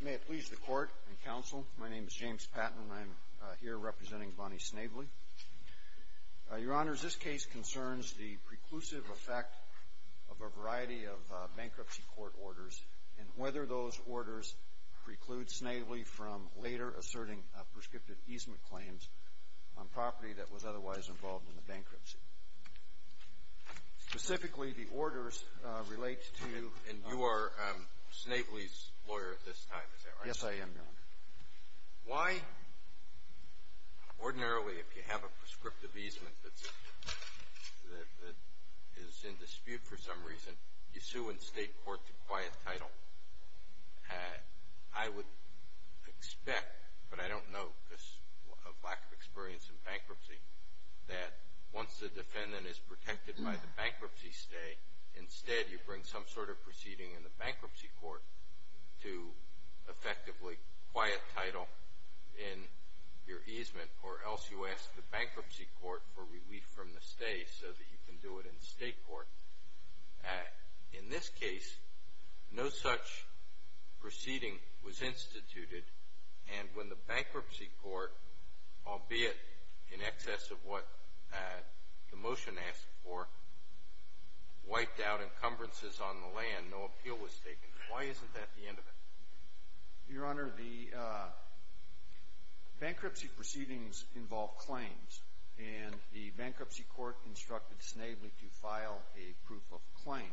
May it please the Court and Counsel, my name is James Patton and I'm here representing Bonnie Snavely. Your Honors, this case concerns the preclusive effect of a variety of bankruptcy court orders and whether those orders preclude Snavely from later asserting prescriptive easement claims on property that was otherwise involved in the bankruptcy. Specifically, the orders relate to... And you are Snavely's lawyer at this time, is that right? Yes, I am, Your Honor. Why ordinarily if you have a prescriptive easement that's, that is in dispute for some reason, you sue in state court to acquire the title. I would expect, but I don't know of lack of experience in bankruptcy, that once the defendant is protected by the bankruptcy stay, instead you bring some sort of proceeding in the bankruptcy court to effectively acquire a title in your easement or else you ask the bankruptcy court for relief from the stay so that you can do it in state court. In this case, no such proceeding was instituted, and when the bankruptcy court, albeit in excess of what the motion asked for, wiped out encumbrances on the land, no appeal was taken. Why isn't that the end of it? Your Honor, the bankruptcy proceedings involve claims, and the bankruptcy court instructed Snavely to file a proof of claim.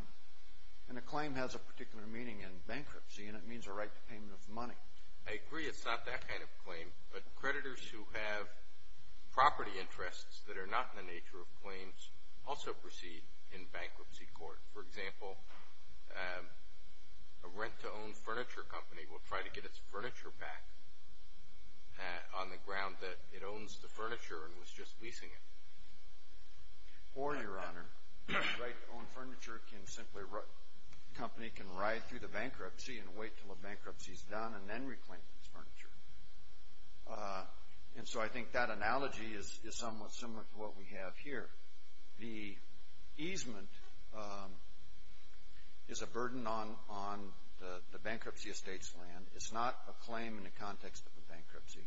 And a claim has a particular meaning in bankruptcy, and it means a right to payment of money. I agree, it's not that kind of claim, but creditors who have property interests that are not in the nature of claims also proceed in bankruptcy court. For example, a rent-to-own furniture company will try to get its furniture back on the ground that it owns the furniture and was just leasing it. Or, Your Honor, a rent-to-own furniture company can ride through the bankruptcy and wait until the bankruptcy is done and then reclaim its furniture. And so I think that analogy is somewhat similar to what we have here. The easement is a burden on the bankruptcy estate's land. It's not a claim in the context of a bankruptcy.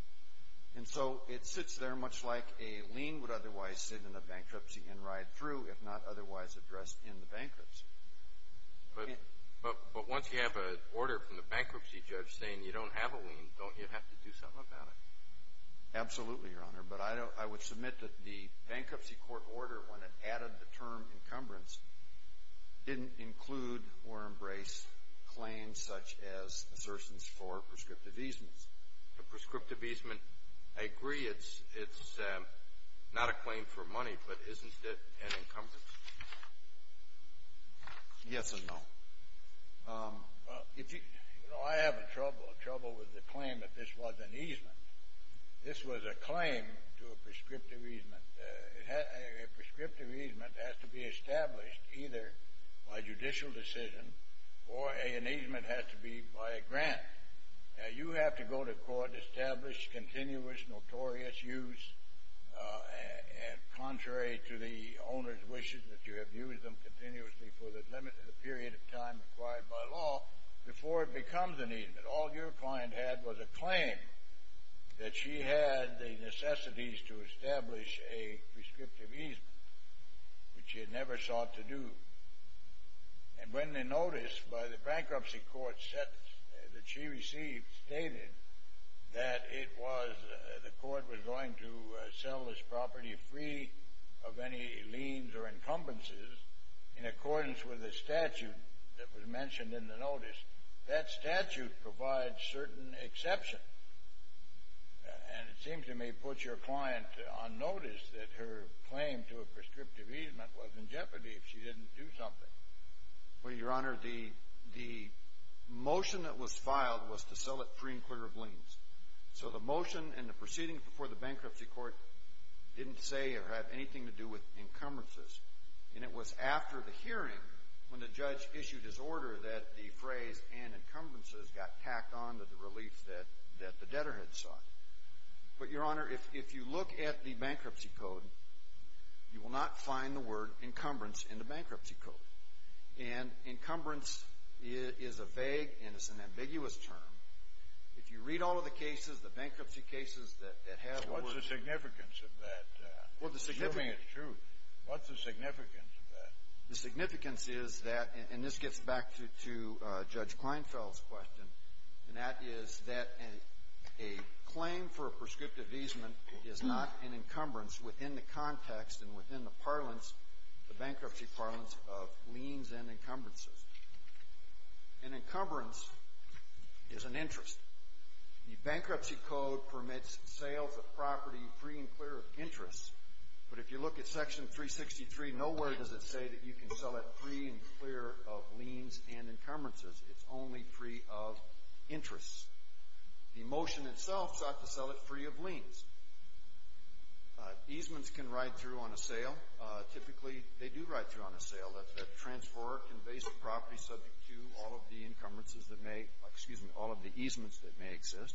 And so it sits there much like a lien would otherwise sit in a bankruptcy and ride through, if not otherwise addressed in the bankruptcy. But once you have an order from the bankruptcy judge saying you don't have a lien, don't you have to do something about it? Absolutely, Your Honor. But I would submit that the bankruptcy court order, when it added the term encumbrance, didn't include or embrace claims such as assertions for prescriptive easements. The prescriptive easement, I agree, it's not a claim for money, but isn't it an encumbrance? Yes and no. Well, you know, I have a trouble with the claim that this was an easement. This was a claim to a prescriptive easement. A prescriptive easement has to be established either by judicial decision or an easement has to be by a grant. Now, you have to go to court and establish continuous, notorious use and contrary to the owner's wishes that you have used them continuously for the limited period of time required by law before it becomes an easement. All your client had was a claim that she had the necessities to establish a prescriptive easement, which she had never sought to do. And when the notice by the bankruptcy court that she received stated that it was, the court was going to sell this property free of any liens or encumbrances in accordance with the statute that was mentioned in the notice, that statute provides certain exception. And it seems to me, put your client on notice that her claim to a prescriptive easement was in jeopardy if she didn't do something. Well, Your Honor, the motion that was filed was to sell it free and clear of liens. So the motion and the proceeding before the bankruptcy court didn't say or have anything to do with encumbrances. And it was after the hearing when the judge issued his order that the phrase and encumbrances got tacked on to the relief that the debtor had sought. But, Your Honor, if you look at the bankruptcy code, you will not find the word encumbrance in the bankruptcy code. And encumbrance is a vague and it's an ambiguous term. If you read all of the cases, the bankruptcy cases that have the word. So what's the significance of that? Well, the significance. Assuming it's true, what's the significance of that? The significance is that, and this gets back to Judge Kleinfeld's question, and that is that a claim for a prescriptive easement is not an encumbrance within the context and within the parlance, the bankruptcy parlance, of liens and encumbrances. An encumbrance is an interest. The bankruptcy code permits sales of property free and clear of interest. But if you look at Section 363, nowhere does it say that you can sell it free and clear of liens and encumbrances. It's only free of interest. The motion itself sought to sell it free of liens. Easements can ride through on a sale. Typically, they do ride through on a sale. The transferor can base the property subject to all of the encumbrances that may, excuse me, all of the easements that may exist.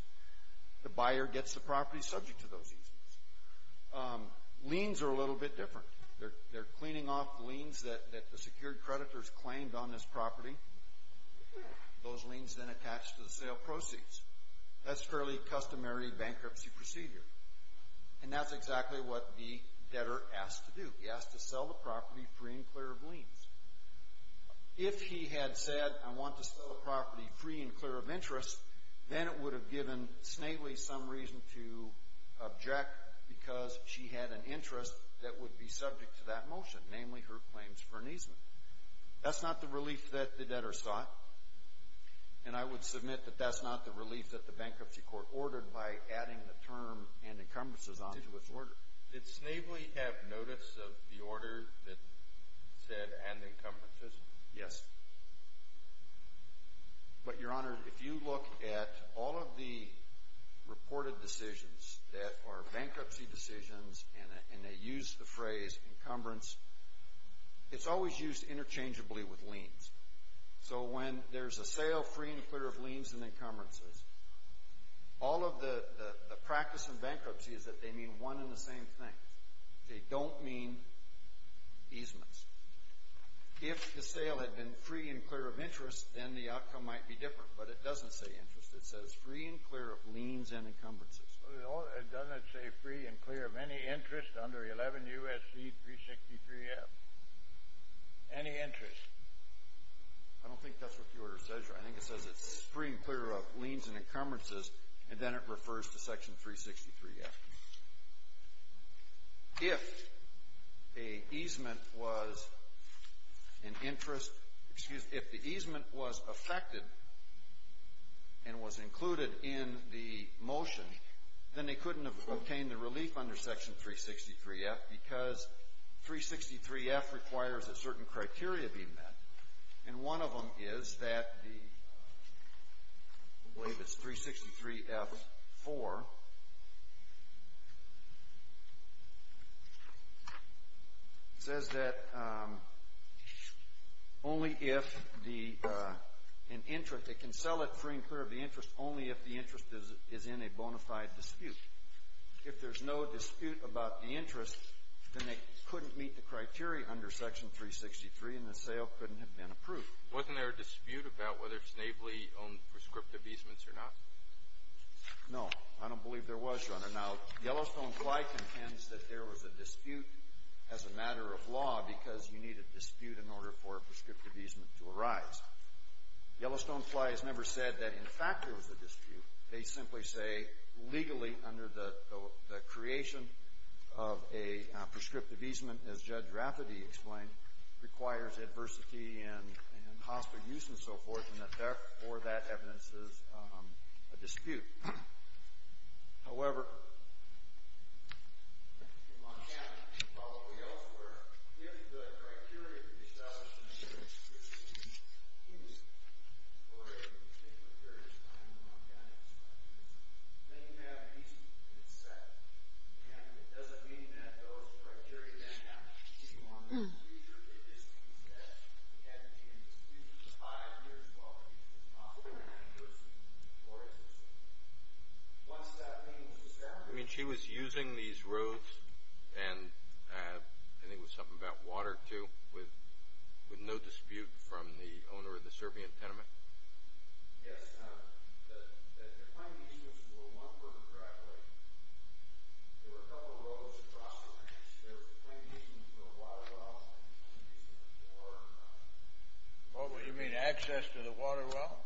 The buyer gets the property subject to those easements. Liens are a little bit different. They're cleaning off liens that the secured creditors claimed on this to the sale proceeds. That's a fairly customary bankruptcy procedure. And that's exactly what the debtor asked to do. He asked to sell the property free and clear of liens. If he had said, I want to sell the property free and clear of interest, then it would have given Snavely some reason to object because she had an interest that would be subject to that motion, namely her claims for an easement. That's not the relief that the debtor sought, and I would submit that that's not the relief that the bankruptcy court ordered by adding the term and encumbrances onto its order. Did Snavely have notice of the order that said and encumbrances? Yes. But Your Honor, if you look at all of the reported decisions that are bankruptcy decisions and they use the phrase encumbrance, it's always used interchangeably with liens. So when there's a sale free and clear of liens and encumbrances, all of the practice in bankruptcy is that they mean one and the same thing. They don't mean easements. If the sale had been free and clear of interest, then the outcome might be different. But it doesn't say interest. It says free and clear of liens and encumbrances. It doesn't say free and clear of any interest under 11 U.S.C. 363-F. Any interest? I don't think that's what the order says, Your Honor. I think it says it's free and clear of liens and encumbrances, and then it refers to section 363-F. If a easement was an interest, excuse me, if the easement was affected and was included in the motion, then they couldn't have obtained the relief under section 363-F because 363-F requires that certain criteria be met. And one of them is that the I believe it's 363-F-4. It says that only if an interest, they can sell it free and clear of the interest only if the interest is in a bona fide dispute. If there's no dispute about the interest, then they couldn't meet the criteria under section 363, and the sale couldn't have been approved. Wasn't there a dispute about whether Snavely owned prescriptive easements or not? No. I don't believe there was, Your Honor. Now, Yellowstone-Fly contends that there was a dispute as a matter of law because you need a dispute in order for a prescriptive easement to arise. Yellowstone-Fly has never said that, in fact, there was a dispute. They simply say, legally, under the creation of a prescriptive easement, as Judge Rafferty explained, requires adversity and hostile use and so forth, and that therefore that evidence is a dispute. However, in Montana and probably elsewhere, if the criteria for the establishment of a prescriptive easement I mean, she was using these roads, and I think it was something about water, too, with no dispute from the owner of the Serbian tenement? Yes, Your Honor. The plain easements were one-fourth of driveway. There were a couple of roads across the ranch. There was a plain easement for a water well, and a plain easement for a door. What would you mean, access to the water well?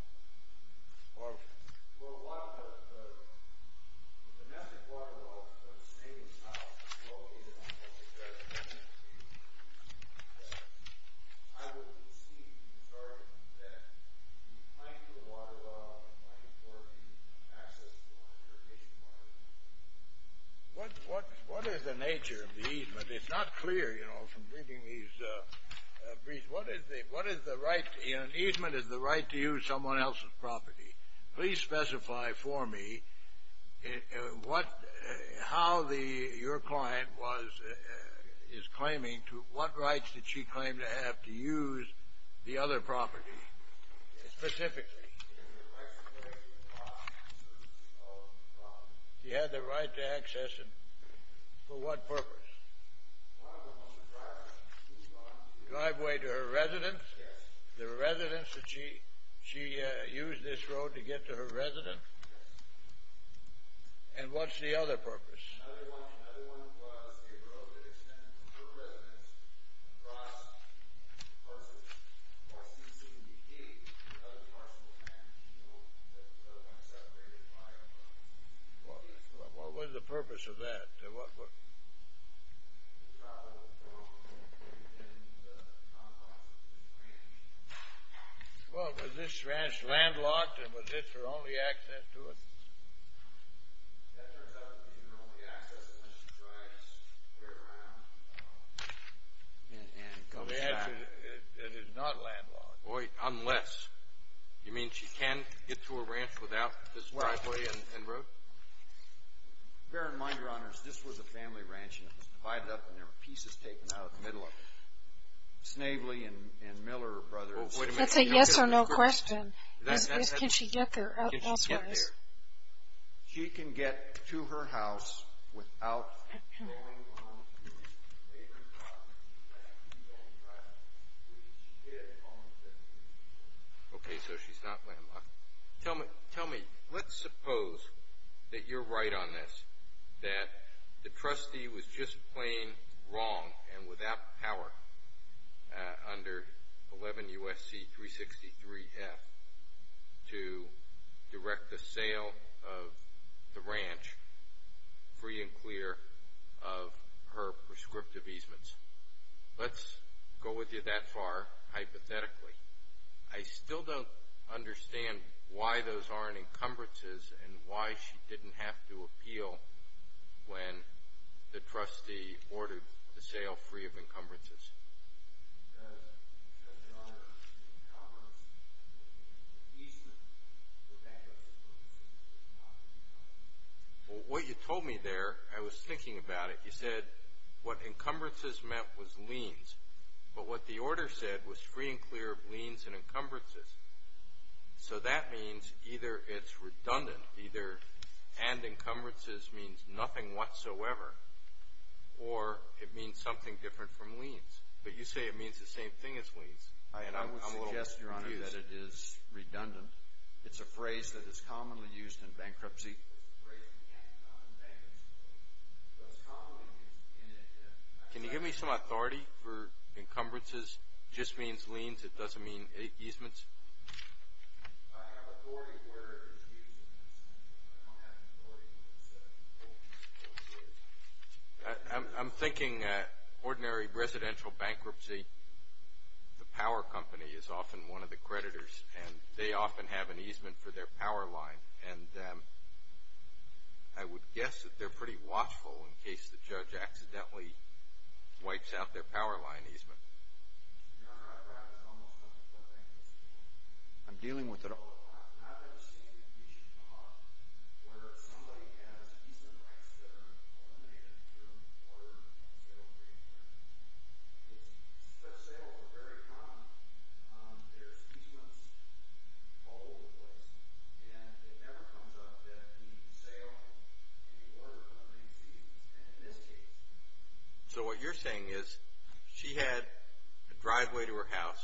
What is the nature of the easement? It's not clear, you know, from reading these briefs. What is the right, you know, an easement is the right to use someone else's property. Please specify for me what, how the, your client was, is claiming, to what rights did she claim to have to use the other property, specifically? She had the right to access it. For what purpose? The driveway to her residence? Yes. The residence that she, she used this road to get to her residence? Yes. And what's the other purpose? Another one, another one was a road that extended to her residence, across, versus, across CCBD, another parcel of land, you know, that was separated by a road. Well, what was the purpose of that? What, what? Well, was this ranch landlocked, and was this her only access to it? That turns out to be her only access, unless she tries to turn it around, and comes back. It is not landlocked. Wait, unless, you mean she can't get to her ranch without this driveway and road? Bear in mind, Your Honors, this was a family ranch, and it was divided up, and there were pieces taken out of the middle of it. Snavely and, and Miller brothers, wait a minute. That's a yes or no question. Is, is, can she get there, elsewhere? She can get to her house without going on to her neighbor's property, without using the only driveway, which she did on the 17th. Okay, so she's not landlocked. Tell me, tell me, let's suppose that you're right on this, that the trustee was just plain wrong, and without power, under 11 U.S.C. 363-F, to direct the sale of the ranch free and clear of her prescriptive easements. Let's go with you that far, hypothetically. I still don't understand why those aren't encumbrances, and why she didn't have to appeal when the trustee ordered the sale free of encumbrances. Because, because there are encumbrances, and easements, that that doesn't work the same way. Well, what you told me there, I was thinking about it. You said what encumbrances meant was liens. But what the order said was free and clear of liens and encumbrances. So that means either it's redundant, either and encumbrances means nothing whatsoever, or it means something different from liens. But you say it means the same thing as liens. I would suggest, Your Honor, that it is redundant. It's a phrase that is commonly used in bankruptcy. Can you give me some authority for encumbrances? Just means liens. It doesn't mean easements. I'm thinking ordinary residential bankruptcy. The power company is often one of the creditors, and they often have an easement for their power line, and I would guess that they're pretty watchful in case the judge accidentally wipes out their power line easement. Your Honor, I've read this almost 24 times. I'm dealing with it all the time. So what you're saying is she had a driveway to her house.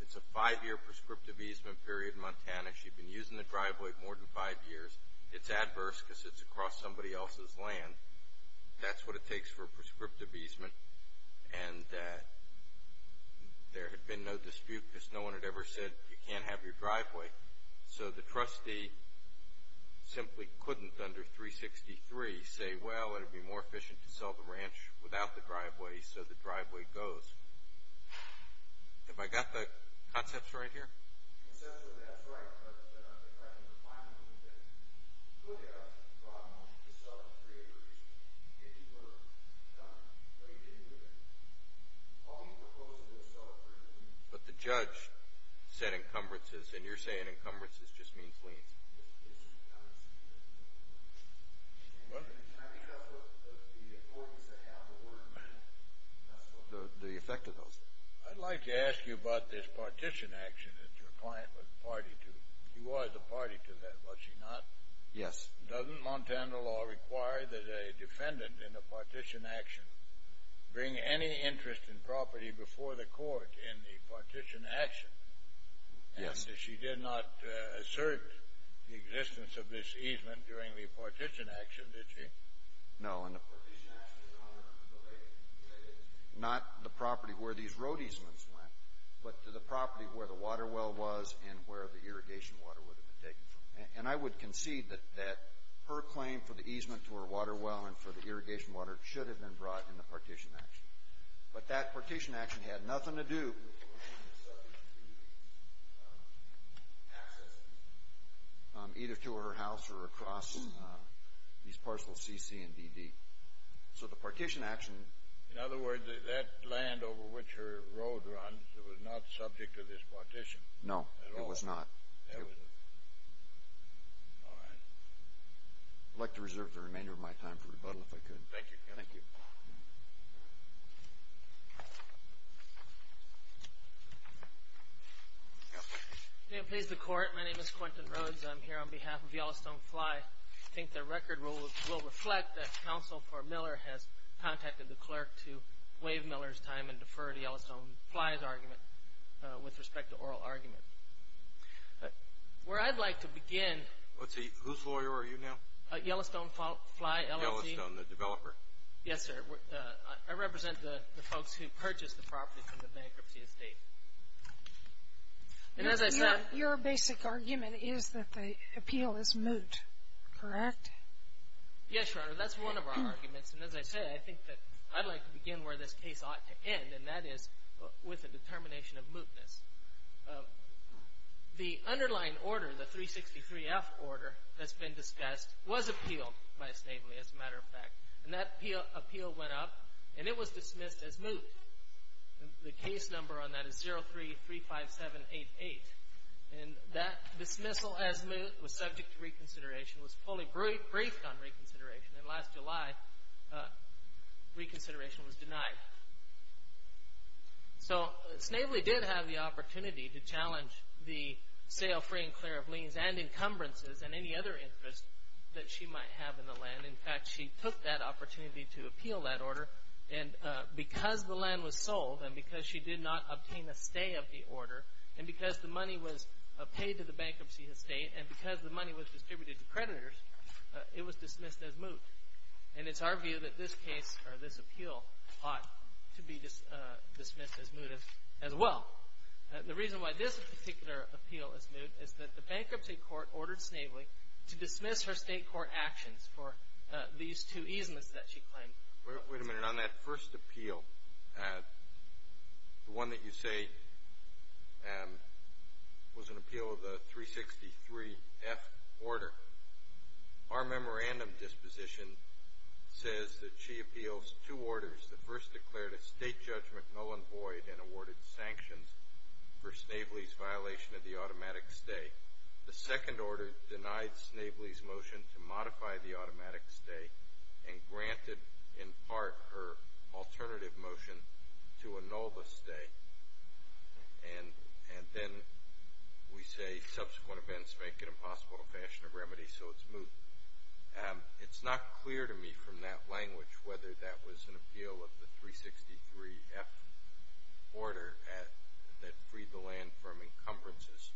It's a five-year prescriptive easement period in Montana. She'd been using the driveway more than five years. It's adverse because it's across somebody else's land. That's what it takes for a prescriptive easement, and there had been no dispute because no one had ever said you can't have your driveway. So the trustee simply couldn't under 363 say, well, it would be more efficient to sell the ranch without the driveway, so the driveway goes. Have I got the concepts right here? Conceptually, that's right, but I think I can refine it a little bit. Look at the problem. You sell it for three acres. If you were dumb, no, you didn't do that. All you proposed was to sell it for three acres. But the judge said encumbrances, and you're saying encumbrances just means liens. It's just encumbrances. And I think that's what the authorities that have the order meant. The effect of those. I'd like to ask you about this partition action that your client was a party to. She was a party to that, was she not? Yes. Doesn't Montana law require that a defendant in a partition action bring any interest in property before the court in the partition action? Yes. And if she did not assert the existence of this easement during the partition action, did she? No. The partition action is not related to the property where these road easements went, but to the property where the water well was and where the irrigation water would have been taken from. And I would concede that her claim for the easement to her water well and for the irrigation water should have been brought in the partition action. But that partition action had nothing to do with her being subject to access either to her house or across these parcels CC and DD. So the partition action. In other words, that land over which her road runs was not subject to this partition at all? No, it was not. It was not. All right. I'd like to reserve the remainder of my time for rebuttal if I could. Thank you. Thank you. Thank you. May it please the court, my name is Quentin Rhodes. I'm here on behalf of Yellowstone Fly. I think the record will reflect that counsel for Miller has contacted the clerk to waive Miller's time and defer to Yellowstone Fly's argument with respect to oral argument. Where I'd like to begin. Whose lawyer are you now? Yellowstone Fly, LLC. Yellowstone, the developer? Yes, sir. I represent the folks who purchased the property from the bankruptcy estate. And as I said. Your basic argument is that the appeal is moot, correct? Yes, Your Honor. That's one of our arguments. And as I said, I think that I'd like to begin where this case ought to end. And that is with a determination of mootness. The underlying order, the 363F order that's been discussed, was appealed by appeal went up, and it was dismissed as moot. The case number on that is 03-35788. And that dismissal as moot was subject to reconsideration, was fully briefed on reconsideration, and last July, reconsideration was denied. So Snavely did have the opportunity to challenge the sale free and clear of liens and encumbrances and any other interest that she might have in the land. In fact, she took that opportunity to appeal that order. And because the land was sold, and because she did not obtain a stay of the order, and because the money was paid to the bankruptcy estate, and because the money was distributed to creditors, it was dismissed as moot. And it's our view that this case, or this appeal, ought to be dismissed as moot as well. The reason why this particular appeal is moot is that the bankruptcy court ordered Ms. Snavely to dismiss her state court actions for these two easements that she claimed. Wait a minute, on that first appeal, the one that you say was an appeal of the 363-F order. Our memorandum disposition says that she appeals two orders. The first declared a state judgment null and void and awarded sanctions for Snavely's violation of the automatic stay. The second order denied Snavely's motion to modify the automatic stay and granted, in part, her alternative motion to annul the stay. And then we say subsequent events make it impossible in a fashion of remedy, so it's moot. It's not clear to me from that language whether that was an appeal of the 363-F order that freed the land from encumbrances.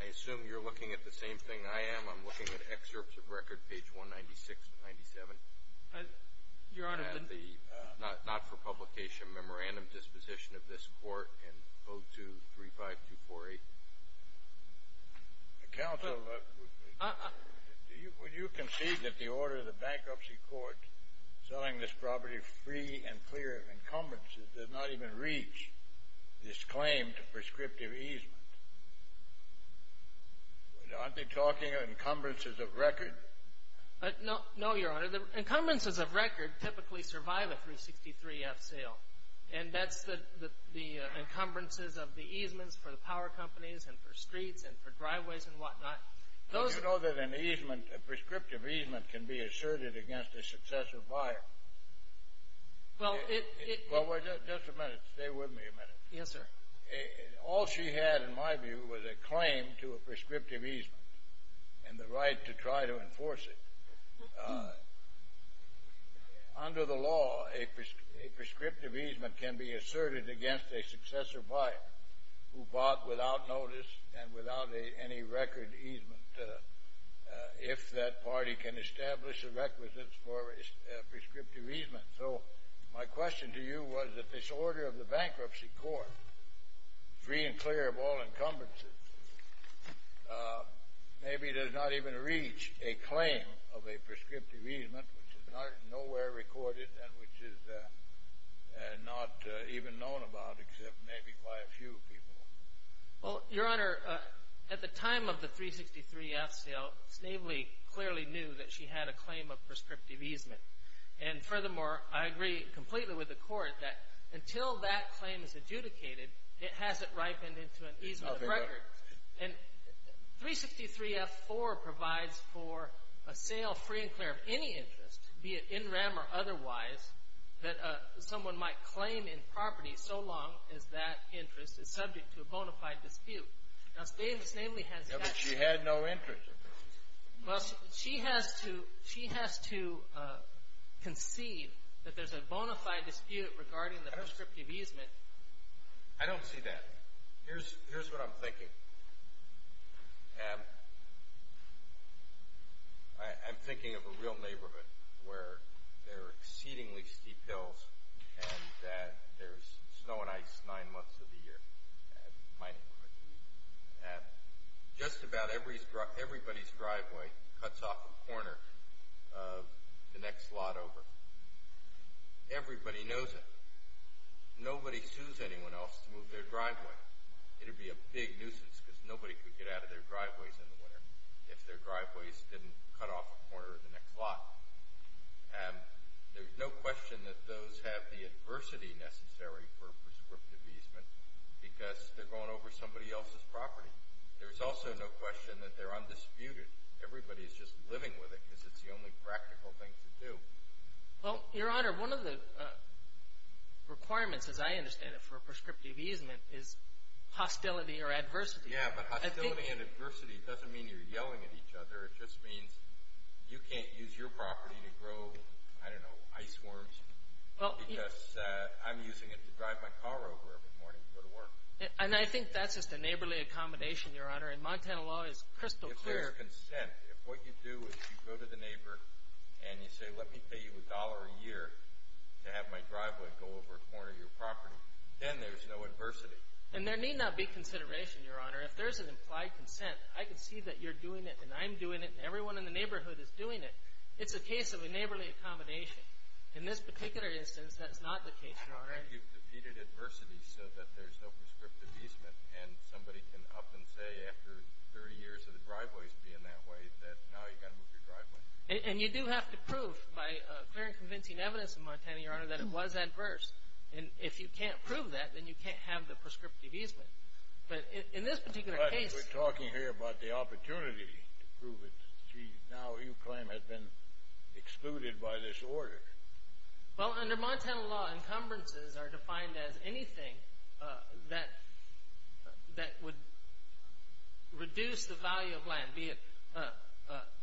I assume you're looking at the same thing I am. I'm looking at excerpts of record, page 196 to 97. Your Honor, the- Not for publication. Memorandum disposition of this court in 0235248. Counsel, would you concede that the order of the bankruptcy court selling this property free and clear of encumbrances does not even reach this claim to prescriptive easement? Aren't they talking of encumbrances of record? No, Your Honor. The encumbrances of record typically survive a 363-F sale. And that's the encumbrances of the easements for the power companies and for streets and for driveways and whatnot. Do you know that an easement, a prescriptive easement can be asserted against a successor buyer? Well, it- Well, just a minute, stay with me a minute. Yes, sir. All she had, in my view, was a claim to a prescriptive easement and the right to try to enforce it. Under the law, a prescriptive easement can be asserted against a successor buyer who bought without notice and without any record easement if that party can establish a requisite for a prescriptive easement. So my question to you was that this order of the bankruptcy court, free and clear of all encumbrances, maybe does not even reach a claim of a prescriptive easement which is nowhere recorded and which is not even known about except maybe by a few people. Well, your honor, at the time of the 363-F sale, Snavely clearly knew that she had a claim of prescriptive easement. And furthermore, I agree completely with the court that until that claim is adjudicated, it hasn't ripened into an easement of record. And 363-F4 provides for a sale free and otherwise that someone might claim in property so long as that interest is subject to a bona fide dispute. Now, Snavely has- Yeah, but she had no interest. Well, she has to conceive that there's a bona fide dispute regarding the prescriptive easement. I don't see that. Here's what I'm thinking. I'm thinking of a real neighborhood where there are exceedingly steep hills and that there's snow and ice nine months of the year, my neighborhood, and just about everybody's driveway cuts off the corner of the next lot over. Everybody knows it. It'd be a big nuisance because nobody could get out of their driveways in the winter if their driveways didn't cut off the corner of the next lot. And there's no question that those have the adversity necessary for prescriptive easement because they're going over somebody else's property. There's also no question that they're undisputed. Everybody's just living with it because it's the only practical thing to do. Well, Your Honor, one of the requirements, as I understand it, for hostility or adversity. Yeah, but hostility and adversity doesn't mean you're yelling at each other. It just means you can't use your property to grow, I don't know, ice worms. Because I'm using it to drive my car over every morning to go to work. And I think that's just a neighborly accommodation, Your Honor, and Montana law is crystal clear. If there's consent, if what you do is you go to the neighbor and you say, let me pay you a dollar a year to have my driveway go over a corner of your property. Then there's no adversity. And there need not be consideration, Your Honor. If there's an implied consent, I can see that you're doing it, and I'm doing it, and everyone in the neighborhood is doing it. It's a case of a neighborly accommodation. In this particular instance, that's not the case, Your Honor. I think you've defeated adversity so that there's no prescriptive easement. And somebody can up and say, after 30 years of the driveways being that way, that now you gotta move your driveway. And you do have to prove by clear and convincing evidence in Montana, Your Honor, that it was adverse. And if you can't prove that, then you can't have the prescriptive easement. But in this particular case- We're talking here about the opportunity to prove it. Now, you claim has been excluded by this order. Well, under Montana law, encumbrances are defined as anything that would reduce the value of land, be it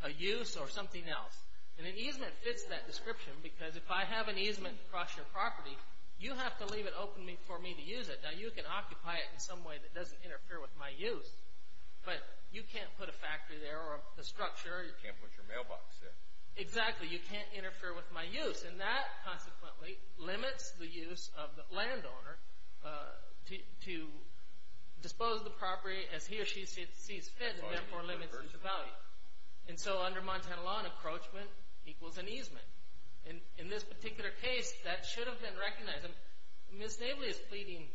a use or something else. And an easement fits that description because if I have an easement across your property, you have to leave it open for me to use it. Now, you can occupy it in some way that doesn't interfere with my use. But you can't put a factory there or a structure. You can't put your mailbox there. Exactly, you can't interfere with my use. And that, consequently, limits the use of the landowner to dispose of the property as he or she sees fit, and therefore limits its value. And so under Montana law, an encroachment equals an easement. And in this particular case, that should have been recognized. Ms. Navely is pleading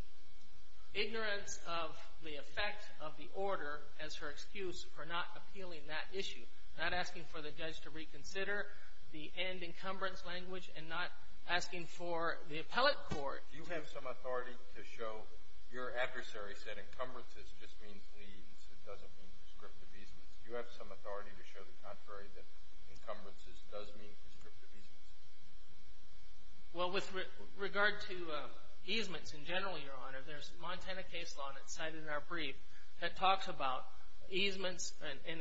ignorance of the effect of the order as her excuse for not appealing that issue, not asking for the judge to reconsider the end encumbrance language, and not asking for the appellate court- You have some authority to show your adversary said encumbrances just means leaves, it doesn't mean prescriptive easements. You have some authority to show the contrary, that encumbrances does mean prescriptive easements. Well, with regard to easements in general, Your Honor, there's Montana case law, and it's cited in our brief, that talks about easements and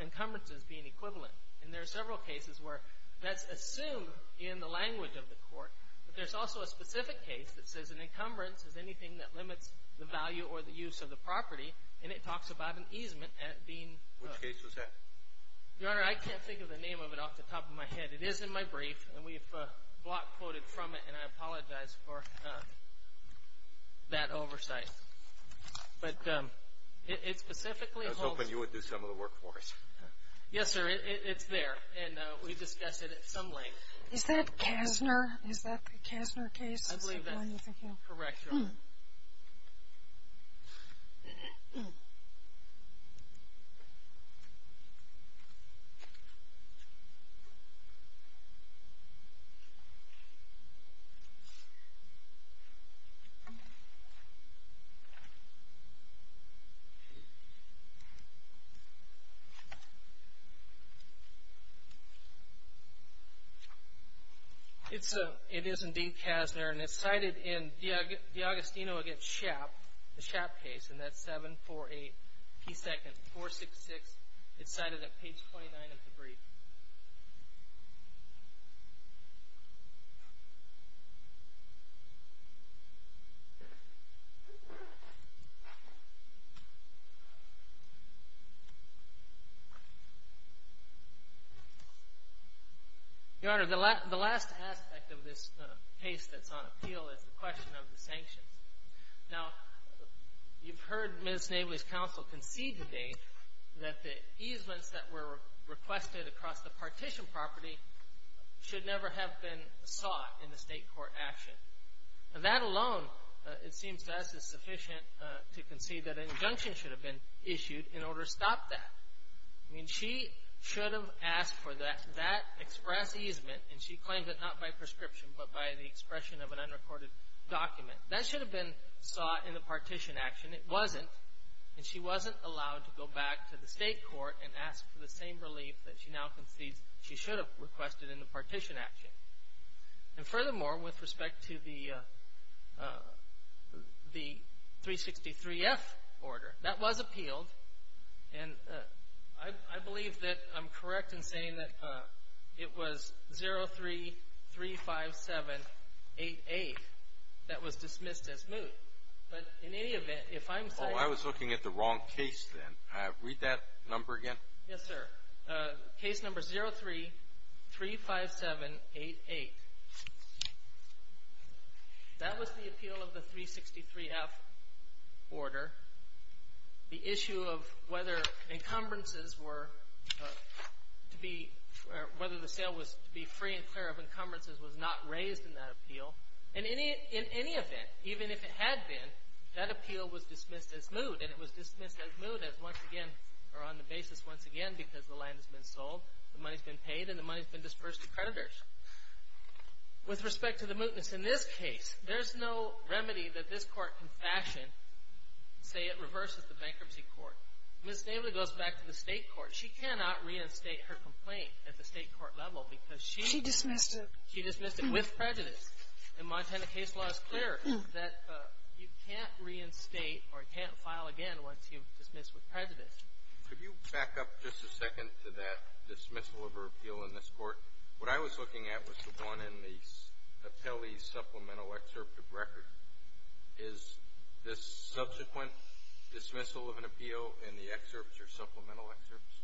encumbrances being equivalent. And there are several cases where that's assumed in the language of the court. But there's also a specific case that says an encumbrance is anything that limits the value or the use of the property. And it talks about an easement being- Which case was that? Your Honor, I can't think of the name of it off the top of my head. It is in my brief, and we've block quoted from it, and I apologize for that oversight. But it specifically holds- I was hoping you would do some of the work for us. Yes, sir, it's there, and we've discussed it at some length. Is that Kasner? I believe that's correct, Your Honor. It is indeed Kasner, and it's cited in the Agostino v. Schaap case, and that's 748p2 466. It's cited at page 29 of the brief. Your Honor, the last aspect of this case that's on appeal is the question of the sanctions. Now, you've heard Ms. Navely's counsel concede today that the easements that were requested across the partition property should never have been sought in the state court action. That alone, it seems to us, is sufficient to concede that an injunction should have been issued in order to stop that. I mean, she should have asked for that express easement, and she claimed it not by prescription but by the expression of an unrecorded document. That should have been sought in the partition action. It wasn't, and she wasn't allowed to go back to the state court and ask for the same relief that she now concedes she should have requested in the partition action. And furthermore, with respect to the 363F order, that was appealed, and I believe that I'm correct in saying that it was 03-357-88 that was dismissed as moot. But in any event, if I'm saying- Oh, I was looking at the wrong case then. Read that number again. Yes, sir. Case number 03-357-88. That was the appeal of the 363F order. The issue of whether encumbrances were to be- whether the sale was to be free and clear of encumbrances was not raised in that appeal. In any event, even if it had been, that appeal was dismissed as moot, and it was dismissed as moot as once again- or on the basis once again because the land has been sold, the money's been paid, and the money's been disbursed to creditors. With respect to the mootness in this case, there's no remedy that this court can fashion and say it reverses the bankruptcy court. Ms. Daly goes back to the state court. She cannot reinstate her complaint at the state court level because she- She dismissed it. She dismissed it with prejudice. And Montana case law is clear that you can't reinstate or you can't file again once you dismiss with prejudice. Could you back up just a second to that dismissal of her appeal in this court? What I was looking at was the one in the appellee's supplemental excerpt of record. Is this subsequent dismissal of an appeal in the excerpts or supplemental excerpts?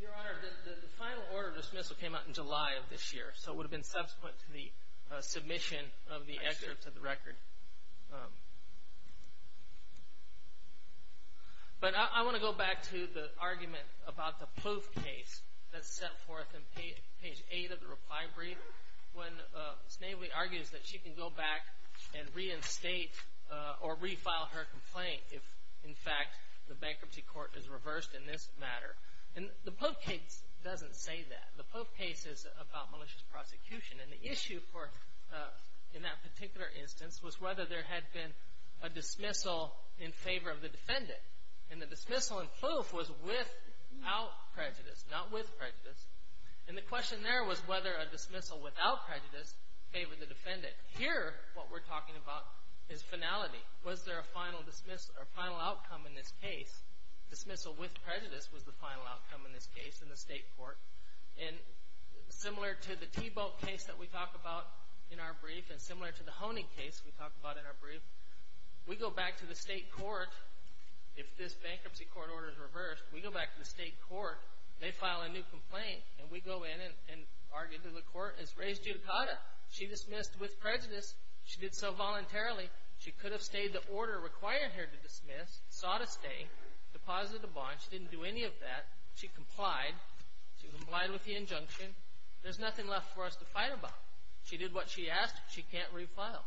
Your Honor, the final order of dismissal came out in July of this year, so it would have been subsequent to the submission of the excerpts of the record. But I want to go back to the argument about the Poth case that's set forth in page eight of the reply brief, when Ms. Daly argues that she can go back and reinstate or refile her complaint if, in fact, the bankruptcy court is reversed in this matter. And the Poth case doesn't say that. The Poth case is about malicious prosecution, and the issue in that particular instance was whether there had been a dismissal in favor of the defendant. And the dismissal in Poth was without prejudice, not with prejudice. And the question there was whether a dismissal without prejudice favored the defendant. Here what we're talking about is finality. Was there a final outcome in this case? Dismissal with prejudice was the final outcome in this case in the state court. And similar to the Tebow case that we talk about in our brief and similar to the Honig case we talk about in our brief, we go back to the state court. If this bankruptcy court order is reversed, we go back to the state court. They file a new complaint, and we go in and argue that the court has raised judicata. She dismissed with prejudice. She did so voluntarily. She could have stayed the order required here to dismiss, sought a stay, deposited a bond. She didn't do any of that. She complied. She complied with the injunction. There's nothing left for us to fight about. She did what she asked. She can't refile.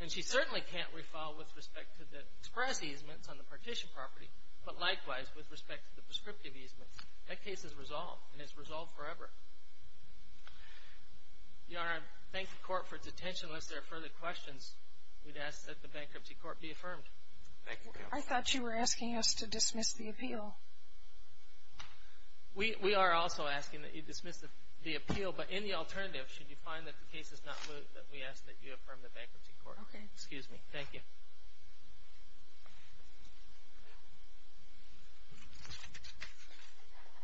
And she certainly can't refile with respect to the express easements on the partition property, but likewise with respect to the prescriptive easements. That case is resolved, and it's resolved forever. Your Honor, I thank the court for its attention. Unless there are further questions, we'd ask that the bankruptcy court be affirmed. Thank you, counsel. I thought you were asking us to dismiss the appeal. We are also asking that you dismiss the appeal. No, but in the alternative, should you find that the case is not moved, that we ask that you affirm the bankruptcy court. Okay. Excuse me. Thank you.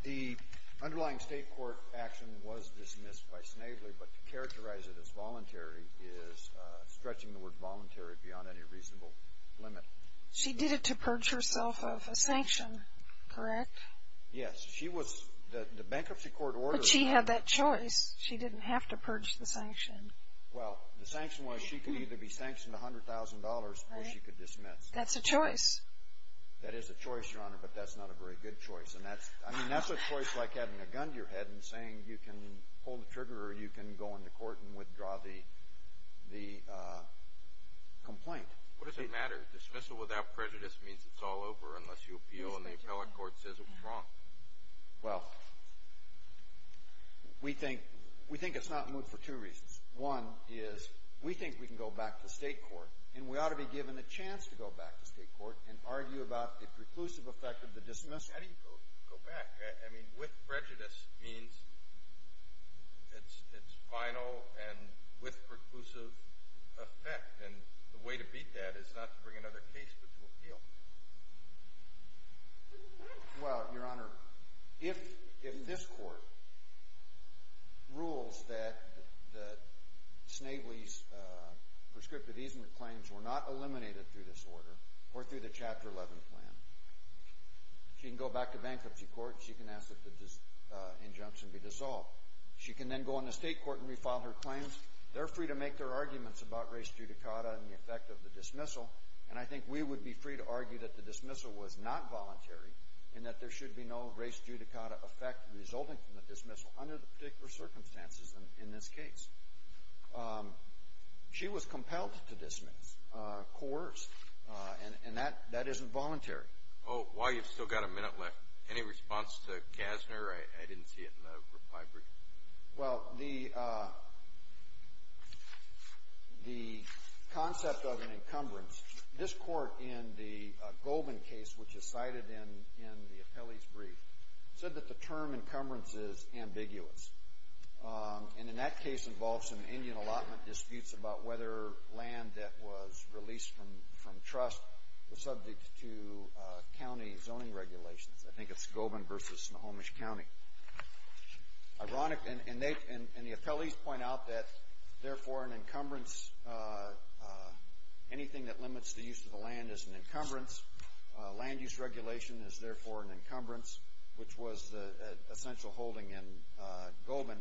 The underlying state court action was dismissed by Snavely, but to characterize it as voluntary is stretching the word voluntary beyond any reasonable limit. She did it to purge herself of a sanction, correct? Yes. She was, the bankruptcy court ordered. She had that choice. She didn't have to purge the sanction. Well, the sanction was she could either be sanctioned $100,000 or she could dismiss. That's a choice. That is a choice, Your Honor, but that's not a very good choice. And that's, I mean, that's a choice like having a gun to your head and saying you can pull the trigger or you can go into court and withdraw the complaint. What does it matter? Dismissal without prejudice means it's all over unless you appeal and the appellate court says it was wrong. Well, we think it's not moot for two reasons. One is we think we can go back to state court and we ought to be given a chance to go back to state court and argue about the preclusive effect of the dismissal. How do you go back? I mean, with prejudice means it's final and with preclusive effect. And the way to beat that is not to bring another case, but to appeal. Well, Your Honor, if this court rules that Snavely's prescriptive easement claims were not eliminated through this order or through the Chapter 11 plan, she can go back to bankruptcy court. She can ask that the injunctions be dissolved. She can then go into state court and refile her claims. They're free to make their arguments about race judicata and the effect of the dismissal. And I think we would be free to argue that the dismissal was not voluntary and that there should be no race judicata effect resulting from the dismissal under the particular circumstances in this case. She was compelled to dismiss, coerced, and that isn't voluntary. While you've still got a minute left, any response to Gassner? I didn't see it in the reply brief. Well, the concept of an encumbrance, this court in the Goldman case, which is cited in the appellee's brief, said that the term encumbrance is ambiguous. And in that case involves some Indian allotment disputes about whether land that was released from trust was subject to county zoning regulations. I think it's Goldman versus Snohomish County. And the appellees point out that, therefore, an encumbrance, anything that limits the use of the land is an encumbrance. Land use regulation is therefore an encumbrance, which was the essential holding in Goldman.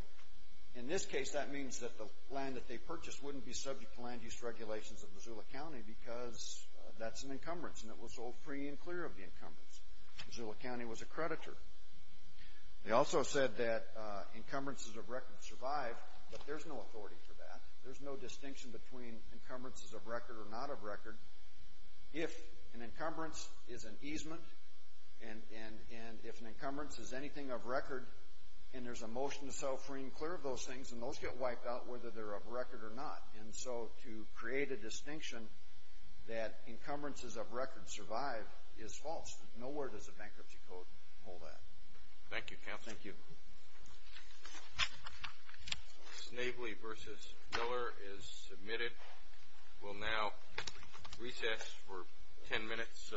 In this case, that means that the land that they purchased wouldn't be subject to land use regulations of Missoula County because that's an encumbrance, and it was sold free and clear of the encumbrance. Missoula County was a creditor. They also said that encumbrances of record survive, but there's no authority for that. There's no distinction between encumbrances of record or not of record. If an encumbrance is an easement, and if an encumbrance is anything of record, and there's a motion to sell free and clear of those things, and those get wiped out whether they're of record or not. And so to create a distinction that encumbrances of record survive is false. Nowhere does a bankruptcy code hold that. Thank you, Counselor. Thank you. Snavely versus Miller is submitted. We'll now recess for ten minutes so